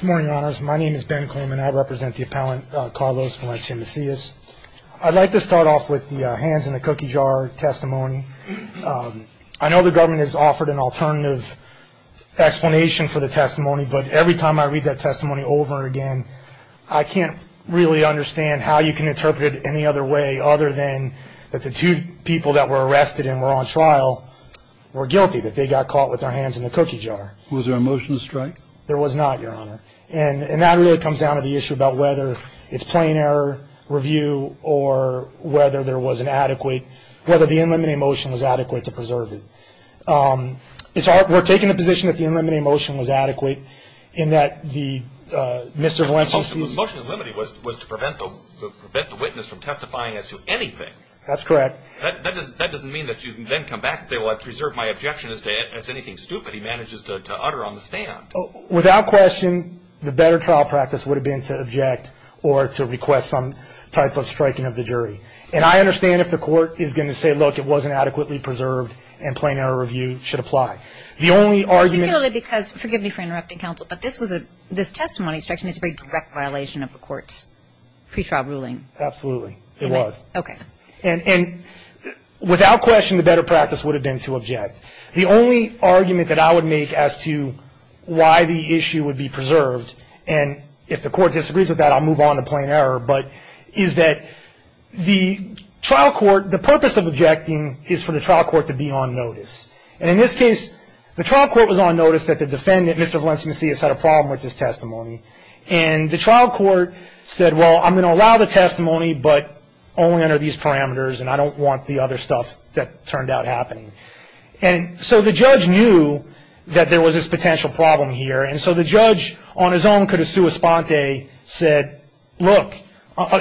Good morning, your honors. My name is Ben Clayman. I represent the appellant Carlos Valencia-Macias. I'd like to start off with the hands in the cookie jar testimony. I know the government has offered an alternative explanation for the testimony, but every time I read that testimony over and again, I can't really understand how you can interpret it any other way other than that the two people that were arrested and were on trial were guilty that they got caught with their hands in the cookie jar. Was there a motion to strike? There was not, your honor. And that really comes down to the issue about whether it's plain error review or whether there was an adequate, whether the in limite motion was adequate to preserve it. We're taking the position that the in limite motion was adequate in that the Mr. Valencia-Macias The motion in limite was to prevent the witness from testifying as to anything. That's correct. That doesn't mean that you can then come back and say, well, I preserved my objection as to anything stupid. Without question, the better trial practice would have been to object or to request some type of striking of the jury. And I understand if the court is going to say, look, it wasn't adequately preserved and plain error review should apply. Particularly because, forgive me for interrupting counsel, but this testimony strikes me as a very direct violation of the court's pretrial ruling. Absolutely, it was. Okay. And without question, the better practice would have been to object. The only argument that I would make as to why the issue would be preserved, and if the court disagrees with that, I'll move on to plain error, but is that the trial court, the purpose of objecting is for the trial court to be on notice. And in this case, the trial court was on notice that the defendant, Mr. Valencia-Macias, had a problem with his testimony. And the trial court said, well, I'm going to allow the testimony but only under these parameters and I don't want the other stuff that turned out happening. And so the judge knew that there was this potential problem here, and so the judge on his own could have sua sponte said, look,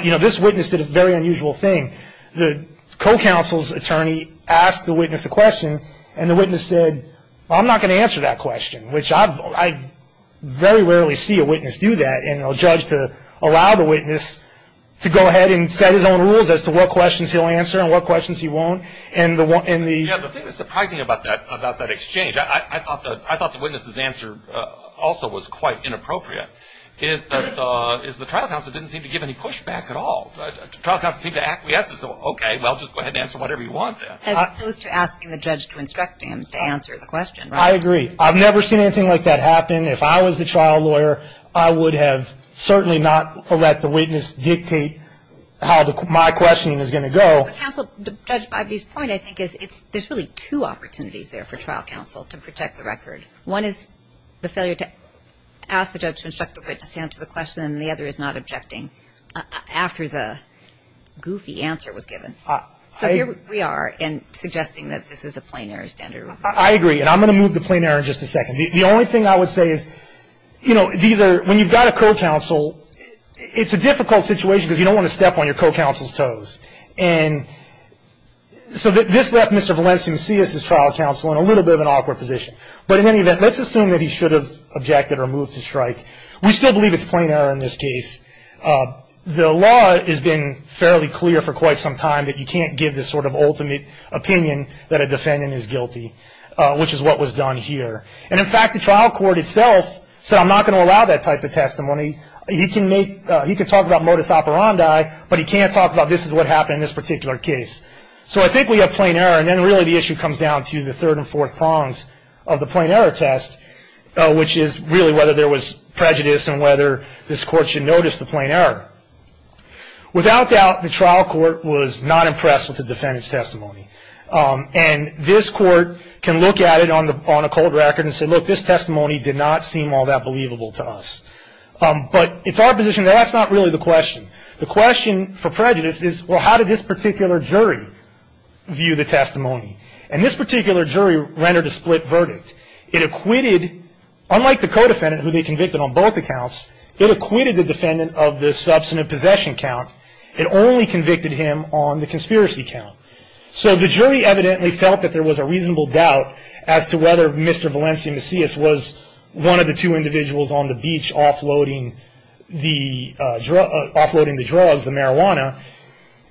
you know, this witness did a very unusual thing. The co-counsel's attorney asked the witness a question and the witness said, I'm not going to answer that question, which I very rarely see a witness do that, and a judge to allow the witness to go ahead and set his own rules as to what questions he'll answer and what questions he won't. And the thing that's surprising about that exchange, I thought the witness's answer also was quite inappropriate, is the trial counsel didn't seem to give any pushback at all. The trial counsel seemed to acquiesce and say, okay, well, just go ahead and answer whatever you want. As opposed to asking the judge to instruct him to answer the question. I agree. I've never seen anything like that happen. If I was the trial lawyer, I would have certainly not let the witness dictate how my question is going to go. Counsel, Judge Bibby's point, I think, is there's really two opportunities there for trial counsel to protect the record. One is the failure to ask the judge to instruct the witness to answer the question and the other is not objecting after the goofy answer was given. So here we are in suggesting that this is a plain error standard rule. I agree, and I'm going to move to plain error in just a second. The only thing I would say is, you know, when you've got a co-counsel, it's a difficult situation because you don't want to step on your co-counsel's toes. And so this left Mr. Valencius's trial counsel in a little bit of an awkward position. But in any event, let's assume that he should have objected or moved to strike. We still believe it's plain error in this case. The law has been fairly clear for quite some time that you can't give this sort of ultimate opinion that a defendant is guilty, which is what was done here. And, in fact, the trial court itself said, I'm not going to allow that type of testimony. He can talk about modus operandi, but he can't talk about this is what happened in this particular case. So I think we have plain error. And then really the issue comes down to the third and fourth prongs of the plain error test, which is really whether there was prejudice and whether this court should notice the plain error. Without doubt, the trial court was not impressed with the defendant's testimony. And this court can look at it on a cold record and say, look, this testimony did not seem all that believable to us. But it's our position that that's not really the question. The question for prejudice is, well, how did this particular jury view the testimony? And this particular jury rendered a split verdict. It acquitted, unlike the co-defendant who they convicted on both accounts, it acquitted the defendant of the substantive possession count. It only convicted him on the conspiracy count. So the jury evidently felt that there was a reasonable doubt as to whether Mr. Valencia Macias was one of the two individuals on the beach offloading the drugs, the marijuana.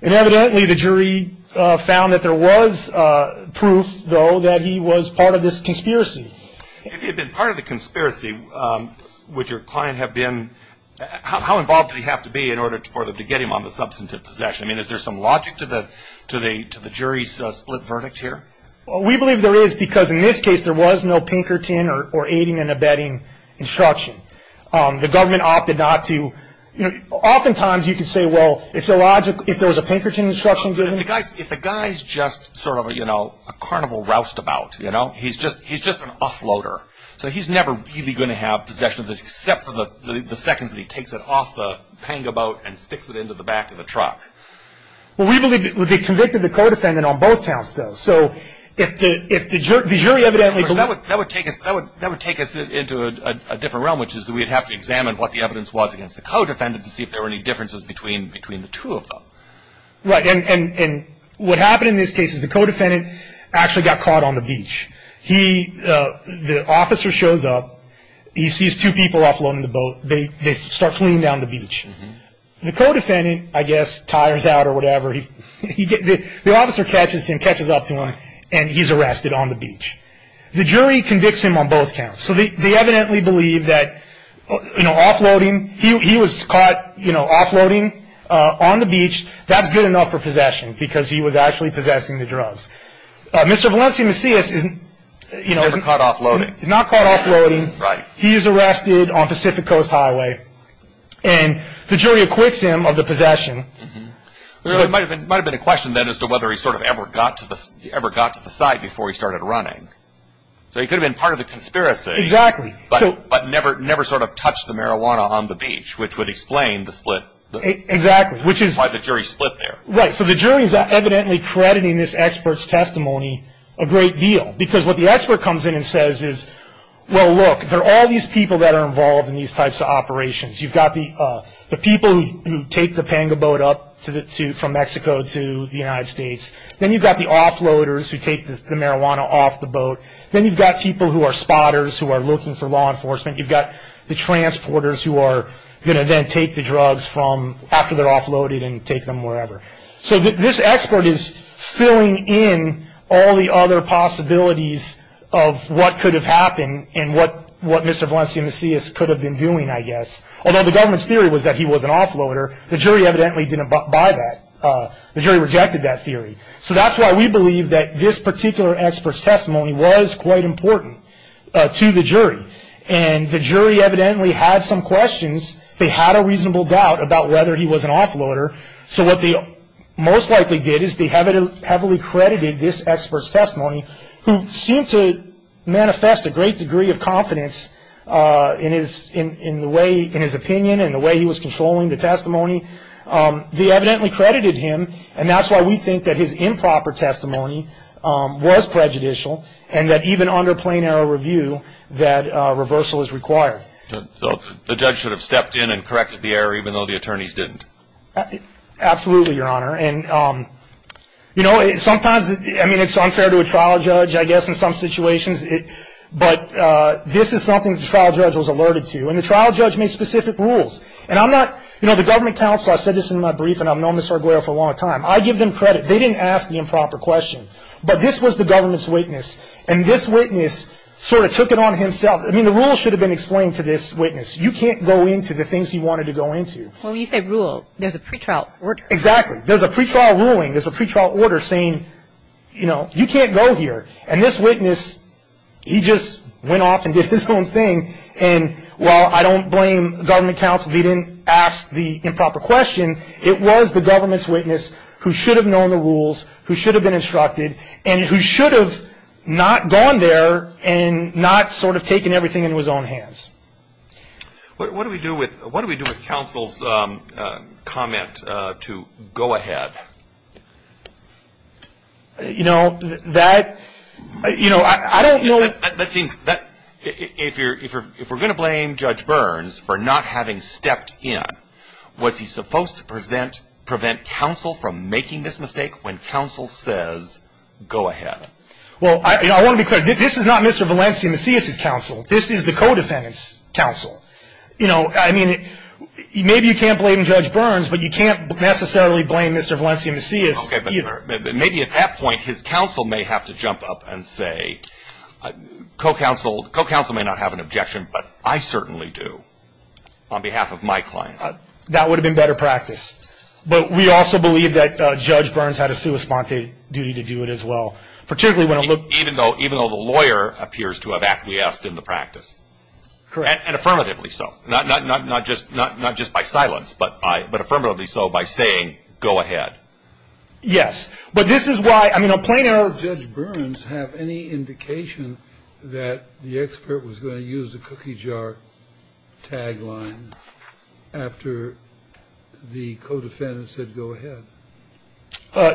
And evidently the jury found that there was proof, though, that he was part of this conspiracy. If he had been part of the conspiracy, would your client have been – how involved did he have to be in order to get him on the substantive possession? I mean, is there some logic to the jury's split verdict here? We believe there is because in this case there was no Pinkerton or aiding and abetting instruction. The government opted not to – oftentimes you can say, well, it's illogical if there was a Pinkerton instruction given. If a guy's just sort of a carnival roustabout, you know, he's just an offloader. So he's never really going to have possession of this, except for the seconds that he takes it off the panga boat and sticks it into the back of the truck. Well, we believe they convicted the co-defendant on both counts, though. So if the jury evidently – That would take us into a different realm, which is we would have to examine what the evidence was against the co-defendant to see if there were any differences between the two of them. Right. And what happened in this case is the co-defendant actually got caught on the beach. He – the officer shows up. He sees two people offloading the boat. They start fleeing down the beach. The co-defendant, I guess, tires out or whatever. The officer catches him, catches up to him, and he's arrested on the beach. The jury convicts him on both counts. So they evidently believe that, you know, offloading – he was caught, you know, offloading on the beach. That's good enough for possession because he was actually possessing the drugs. Mr. Valencia Macias is, you know – Never caught offloading. He's not caught offloading. Right. He is arrested on Pacific Coast Highway, and the jury acquits him of the possession. There might have been a question then as to whether he sort of ever got to the side before he started running. So he could have been part of the conspiracy. Exactly. But never sort of touched the marijuana on the beach, which would explain the split. Exactly. Which is why the jury split there. Right, so the jury is evidently crediting this expert's testimony a great deal because what the expert comes in and says is, well, look, there are all these people that are involved in these types of operations. You've got the people who take the panga boat up from Mexico to the United States. Then you've got the offloaders who take the marijuana off the boat. Then you've got people who are spotters who are looking for law enforcement. You've got the transporters who are going to then take the drugs from after they're offloaded and take them wherever. So this expert is filling in all the other possibilities of what could have happened and what Mr. Valencia Macias could have been doing, I guess. Although the government's theory was that he was an offloader, the jury evidently didn't buy that. The jury rejected that theory. So that's why we believe that this particular expert's testimony was quite important to the jury. And the jury evidently had some questions. They had a reasonable doubt about whether he was an offloader. So what they most likely did is they heavily credited this expert's testimony, who seemed to manifest a great degree of confidence in his opinion and the way he was controlling the testimony. They evidently credited him, and that's why we think that his improper testimony was prejudicial and that even under plain error review, that reversal is required. The judge should have stepped in and corrected the error even though the attorneys didn't. Absolutely, Your Honor. And, you know, sometimes, I mean, it's unfair to a trial judge, I guess, in some situations, but this is something that the trial judge was alerted to. And the trial judge made specific rules. And I'm not, you know, the government counsel, I said this in my brief, and I've known Ms. Arguello for a long time. I give them credit. They didn't ask the improper question. But this was the government's witness, and this witness sort of took it on himself. I mean, the rules should have been explained to this witness. You can't go into the things you wanted to go into. Well, when you say rule, there's a pretrial order. Exactly. There's a pretrial ruling. There's a pretrial order saying, you know, you can't go here. And this witness, he just went off and did his own thing. And while I don't blame government counsel if he didn't ask the improper question, it was the government's witness who should have known the rules, who should have been instructed, and who should have not gone there and not sort of taken everything into his own hands. What do we do with counsel's comment to go ahead? You know, that, you know, I don't know. If we're going to blame Judge Burns for not having stepped in, was he supposed to prevent counsel from making this mistake when counsel says, go ahead? Well, I want to be clear. This is not Mr. Valencia Macias' counsel. This is the co-defendant's counsel. You know, I mean, maybe you can't blame Judge Burns, but you can't necessarily blame Mr. Valencia Macias either. Maybe at that point his counsel may have to jump up and say, co-counsel may not have an objection, but I certainly do on behalf of my client. That would have been better practice. But we also believe that Judge Burns had a sui sponte duty to do it as well, particularly when it looked. Even though the lawyer appears to have acquiesced in the practice. Correct. And affirmatively so, not just by silence, but affirmatively so by saying, go ahead. Yes. But this is why, I mean, a plain error. Did Judge Burns have any indication that the expert was going to use the cookie jar tagline after the co-defendant said go ahead?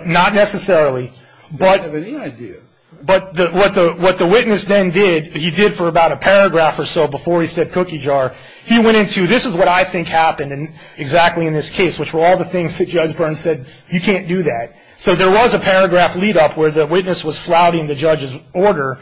Not necessarily. But. I have any idea. But what the witness then did, he did for about a paragraph or so before he said cookie jar, he went into, this is what I think happened exactly in this case, which were all the things that Judge Burns said, you can't do that. So there was a paragraph lead up where the witness was flouting the judge's order,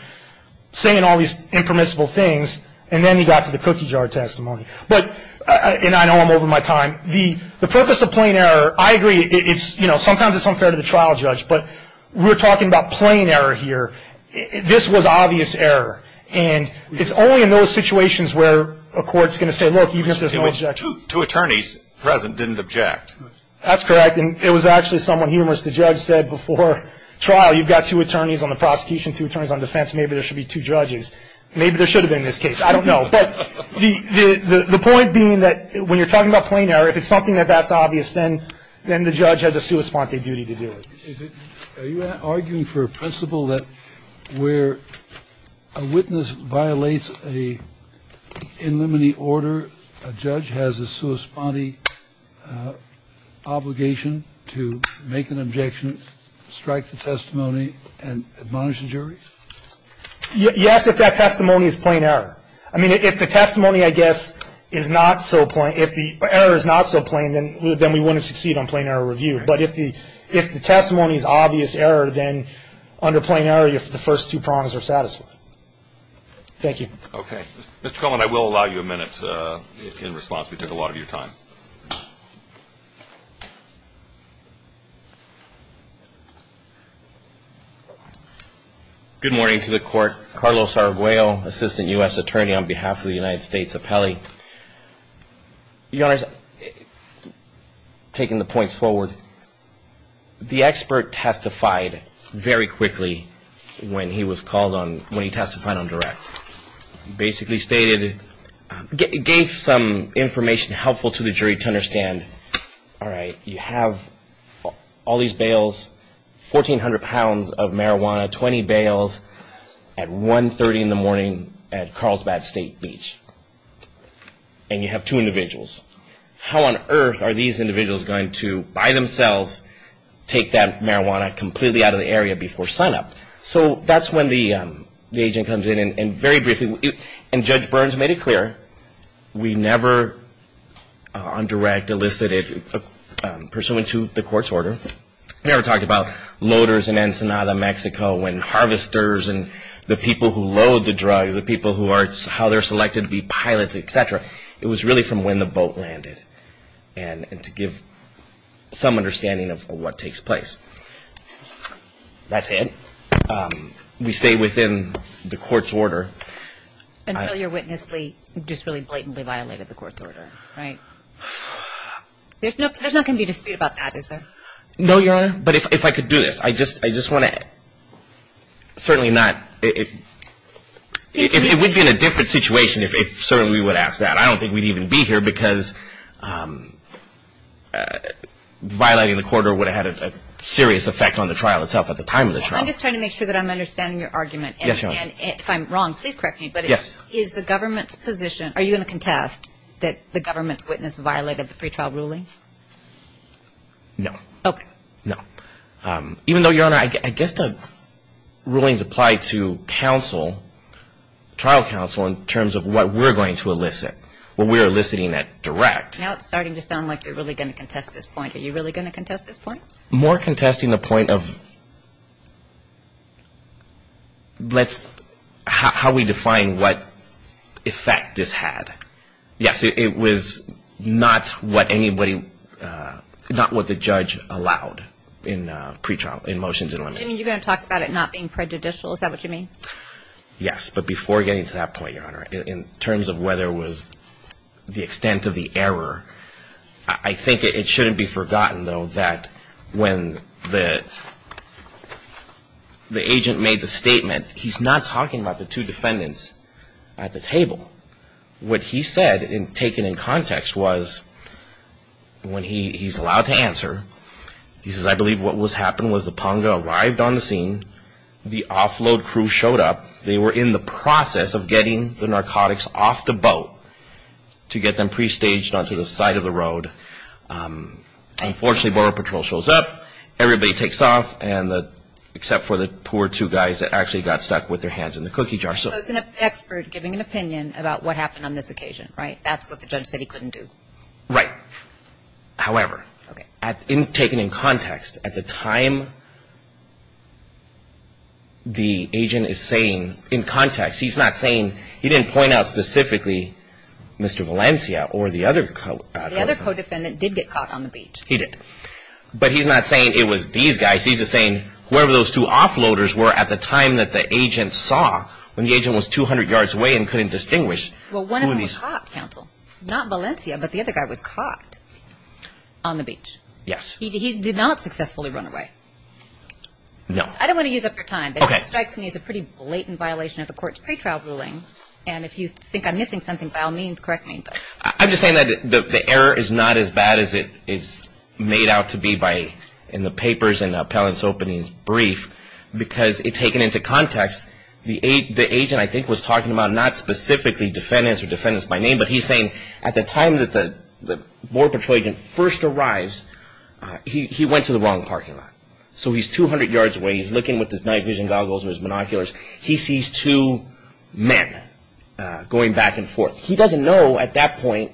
saying all these impermissible things, and then he got to the cookie jar testimony. But, and I know I'm over my time, the purpose of plain error, I agree, it's, you know, sometimes it's unfair to the trial judge, but we're talking about plain error here. This was obvious error. And it's only in those situations where a court's going to say, look, even if there's no objection. I mean, there are two attorneys present didn't object. That's correct. And it was actually somewhat humorous. The judge said before trial, you've got two attorneys on the prosecution, two attorneys on defense, maybe there should be two judges. Maybe there should have been in this case. I don't know. But the point being that when you're talking about plain error, if it's something that that's obvious, then the judge has a sua sponte duty to do it. Are you arguing for a principle that where a witness violates a in limine order, a judge has a sua sponte obligation to make an objection, strike the testimony, and admonish the jury? Yes, if that testimony is plain error. I mean, if the testimony, I guess, is not so plain, if the error is not so plain, then we wouldn't succeed on plain error review. But if the testimony is obvious error, then under plain error, the first two prongs are satisfied. Thank you. Okay. Mr. Coleman, I will allow you a minute in response. We took a lot of your time. Good morning to the court. Carlos Arguello, Assistant U.S. Attorney on behalf of the United States Appellee. Your Honor, taking the points forward, the expert testified very quickly when he was called on, when he testified on direct. He basically stated, gave some information helpful to the jury to understand, all right, you have all these bails, 1,400 pounds of marijuana, 20 bails at 1.30 in the morning at Carlsbad State Beach. And you have two individuals. How on earth are these individuals going to, by themselves, take that marijuana completely out of the area before sunup? So that's when the agent comes in, and very briefly, and Judge Burns made it clear, we never on direct elicited, pursuant to the court's order, we never talked about loaders in Ensenada, Mexico, and harvesters, and the people who load the drugs, the people who are, how they're selected to be pilots, et cetera. It was really from when the boat landed, and to give some understanding of what takes place. That's it. We stay within the court's order. Until your witness just really blatantly violated the court's order, right? There's not going to be a dispute about that, is there? No, Your Honor. But if I could do this, I just want to, certainly not, it would be in a different situation if certainly we would ask that. I don't think we'd even be here because violating the court order would have had a serious effect on the trial itself at the time of the trial. I'm just trying to make sure that I'm understanding your argument. Yes, Your Honor. And if I'm wrong, please correct me, but is the government's position, are you going to contest that the government's witness violated the pretrial ruling? No. Okay. No. Even though, Your Honor, I guess the rulings apply to trial counsel in terms of what we're going to elicit, what we're eliciting at direct. Now it's starting to sound like you're really going to contest this point. Are you really going to contest this point? More contesting the point of how we define what effect this had. Yes, it was not what anybody, not what the judge allowed in motions in London. You're going to talk about it not being prejudicial, is that what you mean? Yes, but before getting to that point, Your Honor, in terms of whether it was the extent of the error, I think it shouldn't be forgotten, though, that when the agent made the statement, he's not talking about the two defendants at the table. What he said, taken in context, was when he's allowed to answer, he says, I believe what happened was the Ponga arrived on the scene, the offload crew showed up, they were in the process of getting the narcotics off the boat to get them pre-staged onto the side of the road. Unfortunately, Borough Patrol shows up, everybody takes off, except for the poor two guys that actually got stuck with their hands in the cookie jar. So it's an expert giving an opinion about what happened on this occasion, right? That's what the judge said he couldn't do. Right. However, taken in context, at the time the agent is saying in context, he's not saying he didn't point out specifically Mr. Valencia or the other co-defendant. The other co-defendant did get caught on the beach. He did. But he's not saying it was these guys. He's just saying whoever those two offloaders were at the time that the agent saw, when the agent was 200 yards away and couldn't distinguish. Well, one of them was caught, counsel. Not Valencia, but the other guy was caught on the beach. Yes. He did not successfully run away. No. I don't want to use up your time. Okay. But it strikes me as a pretty blatant violation of the court's pretrial ruling, and if you think I'm missing something, by all means, correct me. I'm just saying that the error is not as bad as it's made out to be in the papers and the appellant's opening brief, because taken into context, the agent I think was talking about not specifically defendants or defendants by name, but he's saying at the time that the Border Patrol agent first arrives, he went to the wrong parking lot. So he's 200 yards away. He's looking with his night vision goggles and his binoculars. He sees two men going back and forth. He doesn't know at that point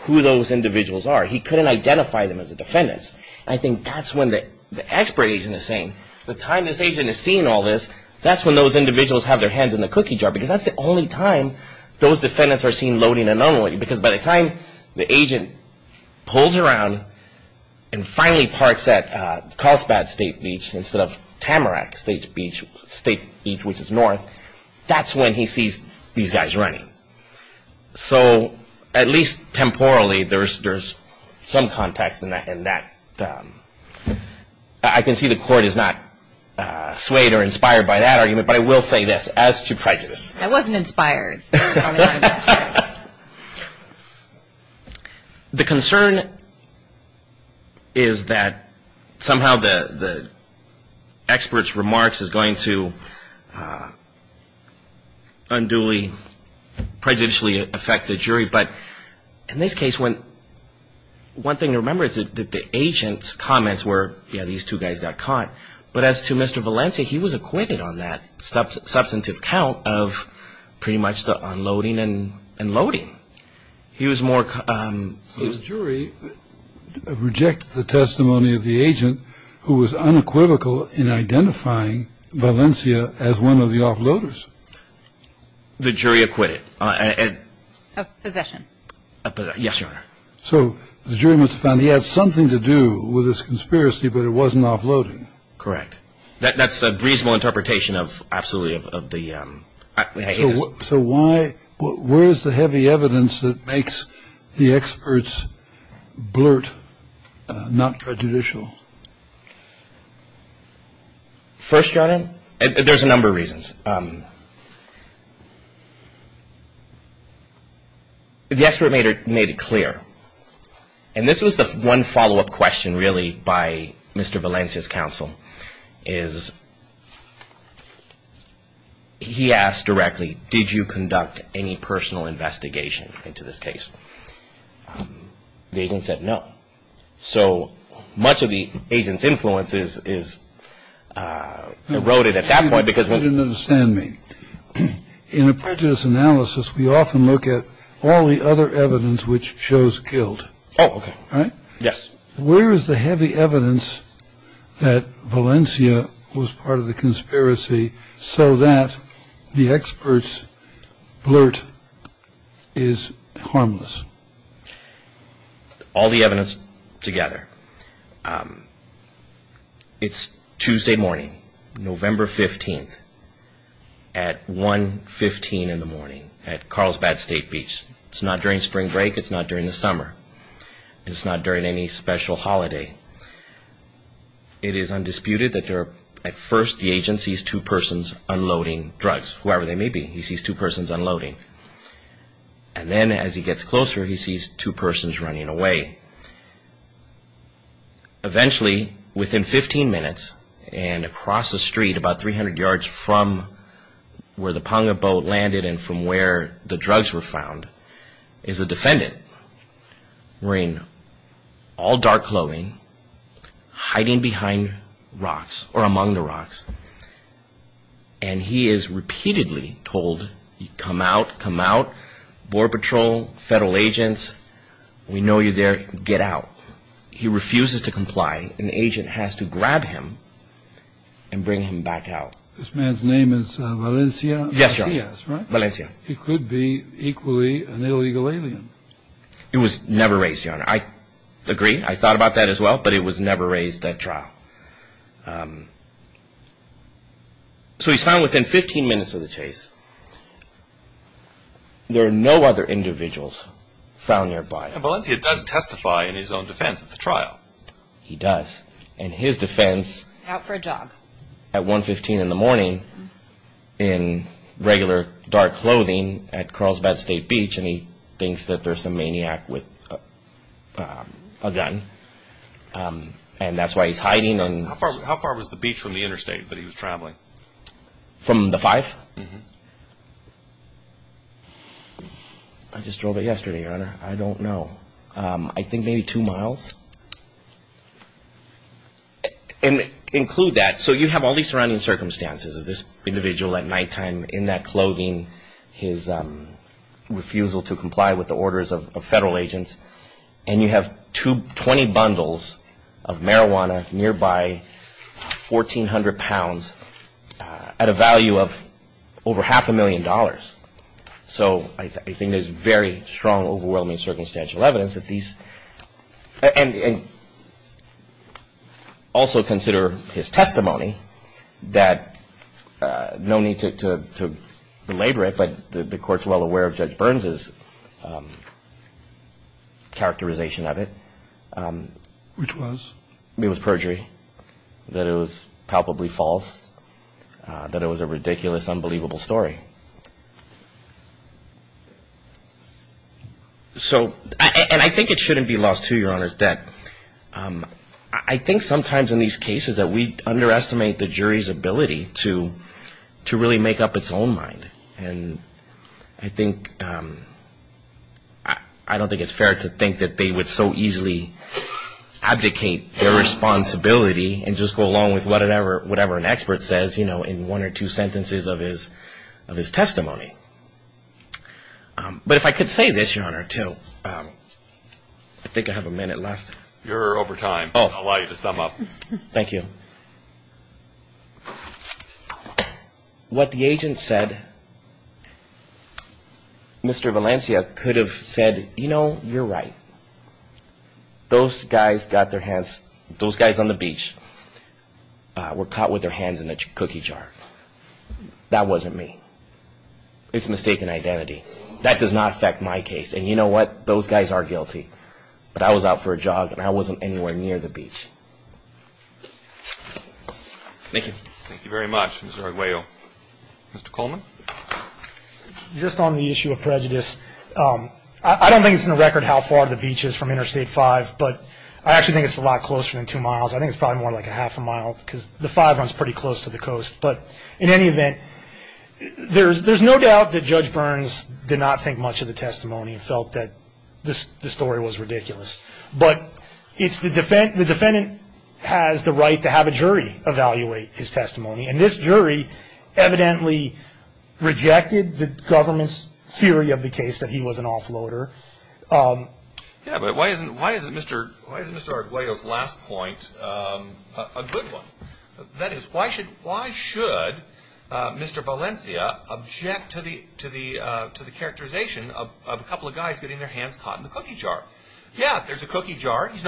who those individuals are. He couldn't identify them as the defendants. And I think that's when the expert agent is saying, the time this agent is seeing all this, that's when those individuals have their hands in the cookie jar, because that's the only time those defendants are seen loading anomaly, because by the time the agent pulls around and finally parks at Carlsbad State Beach instead of Tamarack State Beach, which is north, that's when he sees these guys running. So at least temporally, there's some context in that. I can see the court is not swayed or inspired by that argument, but I will say this, as to prejudice. I wasn't inspired. The concern is that somehow the expert's remarks is going to unduly, prejudicially affect the jury. But in this case, one thing to remember is that the agent's comments were, yeah, these two guys got caught. But as to Mr. Valencia, he was acquitted on that substantive count of pretty much the entire case. He was just unloading and loading. He was more. So the jury rejected the testimony of the agent who was unequivocal in identifying Valencia as one of the offloaders. The jury acquitted. Of possession. Yes, Your Honor. So the jury must have found he had something to do with this conspiracy, but it wasn't offloading. Correct. That's a reasonable interpretation of absolutely of the. So why? Where is the heavy evidence that makes the experts blurt not prejudicial? First, Your Honor, there's a number of reasons. The expert made it clear. And this was the one follow-up question really by Mr. Valencia's counsel is he asked directly, did you conduct any personal investigation into this case? The agent said no. So much of the agent's influence is eroded at that point because. You didn't understand me. In a prejudice analysis, we often look at all the other evidence which shows guilt. Oh, yes. Where is the heavy evidence that Valencia was part of the conspiracy so that the experts blurt is harmless? All the evidence together. It's Tuesday morning, November 15th, at 1.15 in the morning at Carlsbad State Beach. It's not during spring break. It's not during the summer. It's not during any special holiday. It is undisputed that at first the agent sees two persons unloading drugs, whoever they may be. He sees two persons unloading. And then as he gets closer, he sees two persons running away. Eventually, within 15 minutes and across the street about 300 yards from where the panga boat landed and from where the drugs were found is a defendant wearing all dark clothing, hiding behind rocks or among the rocks. And he is repeatedly told, come out, come out, Border Patrol, federal agents, we know you're there, get out. He refuses to comply. An agent has to grab him and bring him back out. This man's name is Valencia Macias, right? Valencia. He could be equally an illegal alien. It was never raised, Your Honor. I agree. I thought about that as well, but it was never raised at trial. So he's found within 15 minutes of the chase. There are no other individuals found nearby. And Valencia does testify in his own defense at the trial. He does. And his defense at 115 in the morning in regular dark clothing at Carlsbad State Beach, and he thinks that there's a maniac with a gun, and that's why he's hiding. How far was the beach from the interstate that he was traveling? From the 5th? I just drove it yesterday, Your Honor. I don't know. I think maybe two miles. And include that. So you have all these surrounding circumstances of this individual at nighttime in that clothing, his refusal to comply with the orders of federal agents, and you have 20 bundles of marijuana nearby, 1,400 pounds, at a value of over half a million dollars. So I think there's very strong, overwhelming circumstantial evidence that these – and also consider his testimony that no need to belabor it, but the Court's well aware of Judge Burns' characterization of it. Which was? It was perjury, that it was palpably false, that it was a ridiculous, unbelievable story. So – and I think it shouldn't be lost to, Your Honor, that I think sometimes in these cases that we underestimate the jury's ability to really make up its own mind. And I think – I don't think it's fair to think that they would so easily abdicate their responsibility and just go along with whatever an expert says, you know, in one or two sentences of his testimony. But if I could say this, Your Honor, until – I think I have a minute left. You're over time. I'll allow you to sum up. Thank you. What the agent said, Mr. Valencia could have said, you know, you're right. Those guys got their hands – those guys on the beach were caught with their hands in a cookie jar. That wasn't me. It's mistaken identity. That does not affect my case. And you know what? Those guys are guilty. But I was out for a jog and I wasn't anywhere near the beach. Thank you. Thank you very much, Mr. Arguello. Mr. Coleman? Just on the issue of prejudice, I don't think it's in the record how far the beach is from Interstate 5, but I actually think it's a lot closer than two miles. I think it's probably more like a half a mile because the 5 runs pretty close to the coast. But in any event, there's no doubt that Judge Burns did not think much of the testimony and felt that the story was ridiculous. But it's the – the defendant has the right to have a jury evaluate his testimony. And this jury evidently rejected the government's theory of the case that he was an offloader. Yeah, but why isn't Mr. Arguello's last point a good one? That is, why should Mr. Valencia object to the characterization of a couple of guys getting their hands caught in the cookie jar? Yeah, there's a cookie jar. He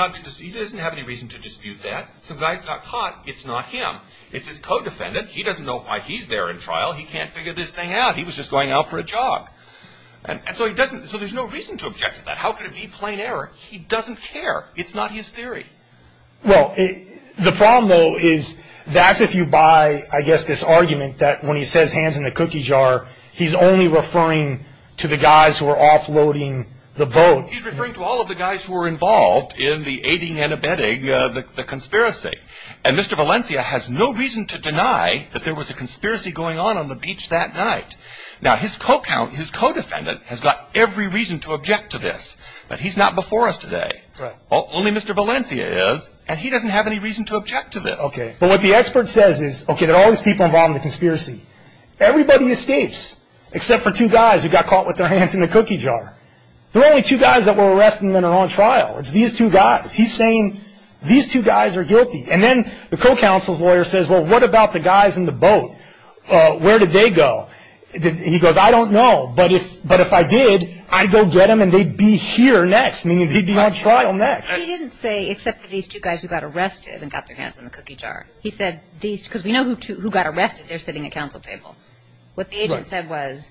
doesn't have any reason to dispute that. Some guys got caught. It's not him. It's his co-defendant. He doesn't know why he's there in trial. He can't figure this thing out. He was just going out for a jog. And so he doesn't – so there's no reason to object to that. How could it be plain error? He doesn't care. It's not his theory. Well, the problem, though, is that's if you buy, I guess, this argument that when he says hands in the cookie jar, he's only referring to the guys who are offloading the boat. He's referring to all of the guys who were involved in the aiding and abetting the conspiracy. And Mr. Valencia has no reason to deny that there was a conspiracy going on on the beach that night. Now, his co-defendant has got every reason to object to this, but he's not before us today. Right. Only Mr. Valencia is, and he doesn't have any reason to object to this. Okay. But what the expert says is, okay, there are all these people involved in the conspiracy. Everybody escapes except for two guys who got caught with their hands in the cookie jar. There are only two guys that were arrested and then are on trial. It's these two guys. He's saying these two guys are guilty. And then the co-counsel's lawyer says, well, what about the guys in the boat? Where did they go? He goes, I don't know. But if I did, I'd go get them and they'd be here next, meaning they'd be on trial next. He didn't say except for these two guys who got arrested and got their hands in the cookie jar. He said these, because we know who got arrested, they're sitting at council tables. What the agent said was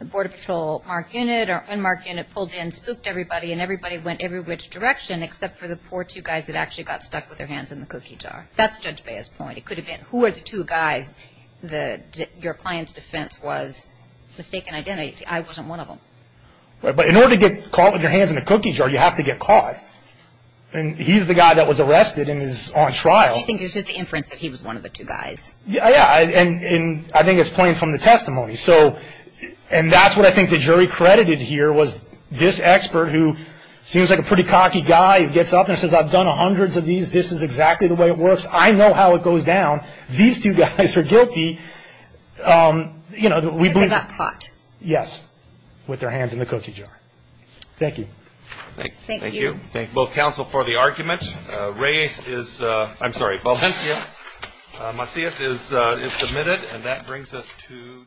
the Border Patrol mark unit or unmarked unit pulled in, spooked everybody, and everybody went every which direction except for the poor two guys that actually got stuck with their hands in the cookie jar. That's Judge Baez's point. It could have been who were the two guys your client's defense was mistaken identity. I wasn't one of them. But in order to get caught with your hands in the cookie jar, you have to get caught. And he's the guy that was arrested and is on trial. I think it's just the inference that he was one of the two guys. Yeah. And I think it's plain from the testimony. And that's what I think the jury credited here was this expert who seems like a pretty cocky guy who gets up and says, I've done hundreds of these. This is exactly the way it works. I know how it goes down. These two guys are guilty. Because they got caught. Yes. With their hands in the cookie jar. Thank you. Thank you. Thank you. Thank both counsel for the argument. Reyes is, I'm sorry, Valencia. Macias is submitted. And that brings us to.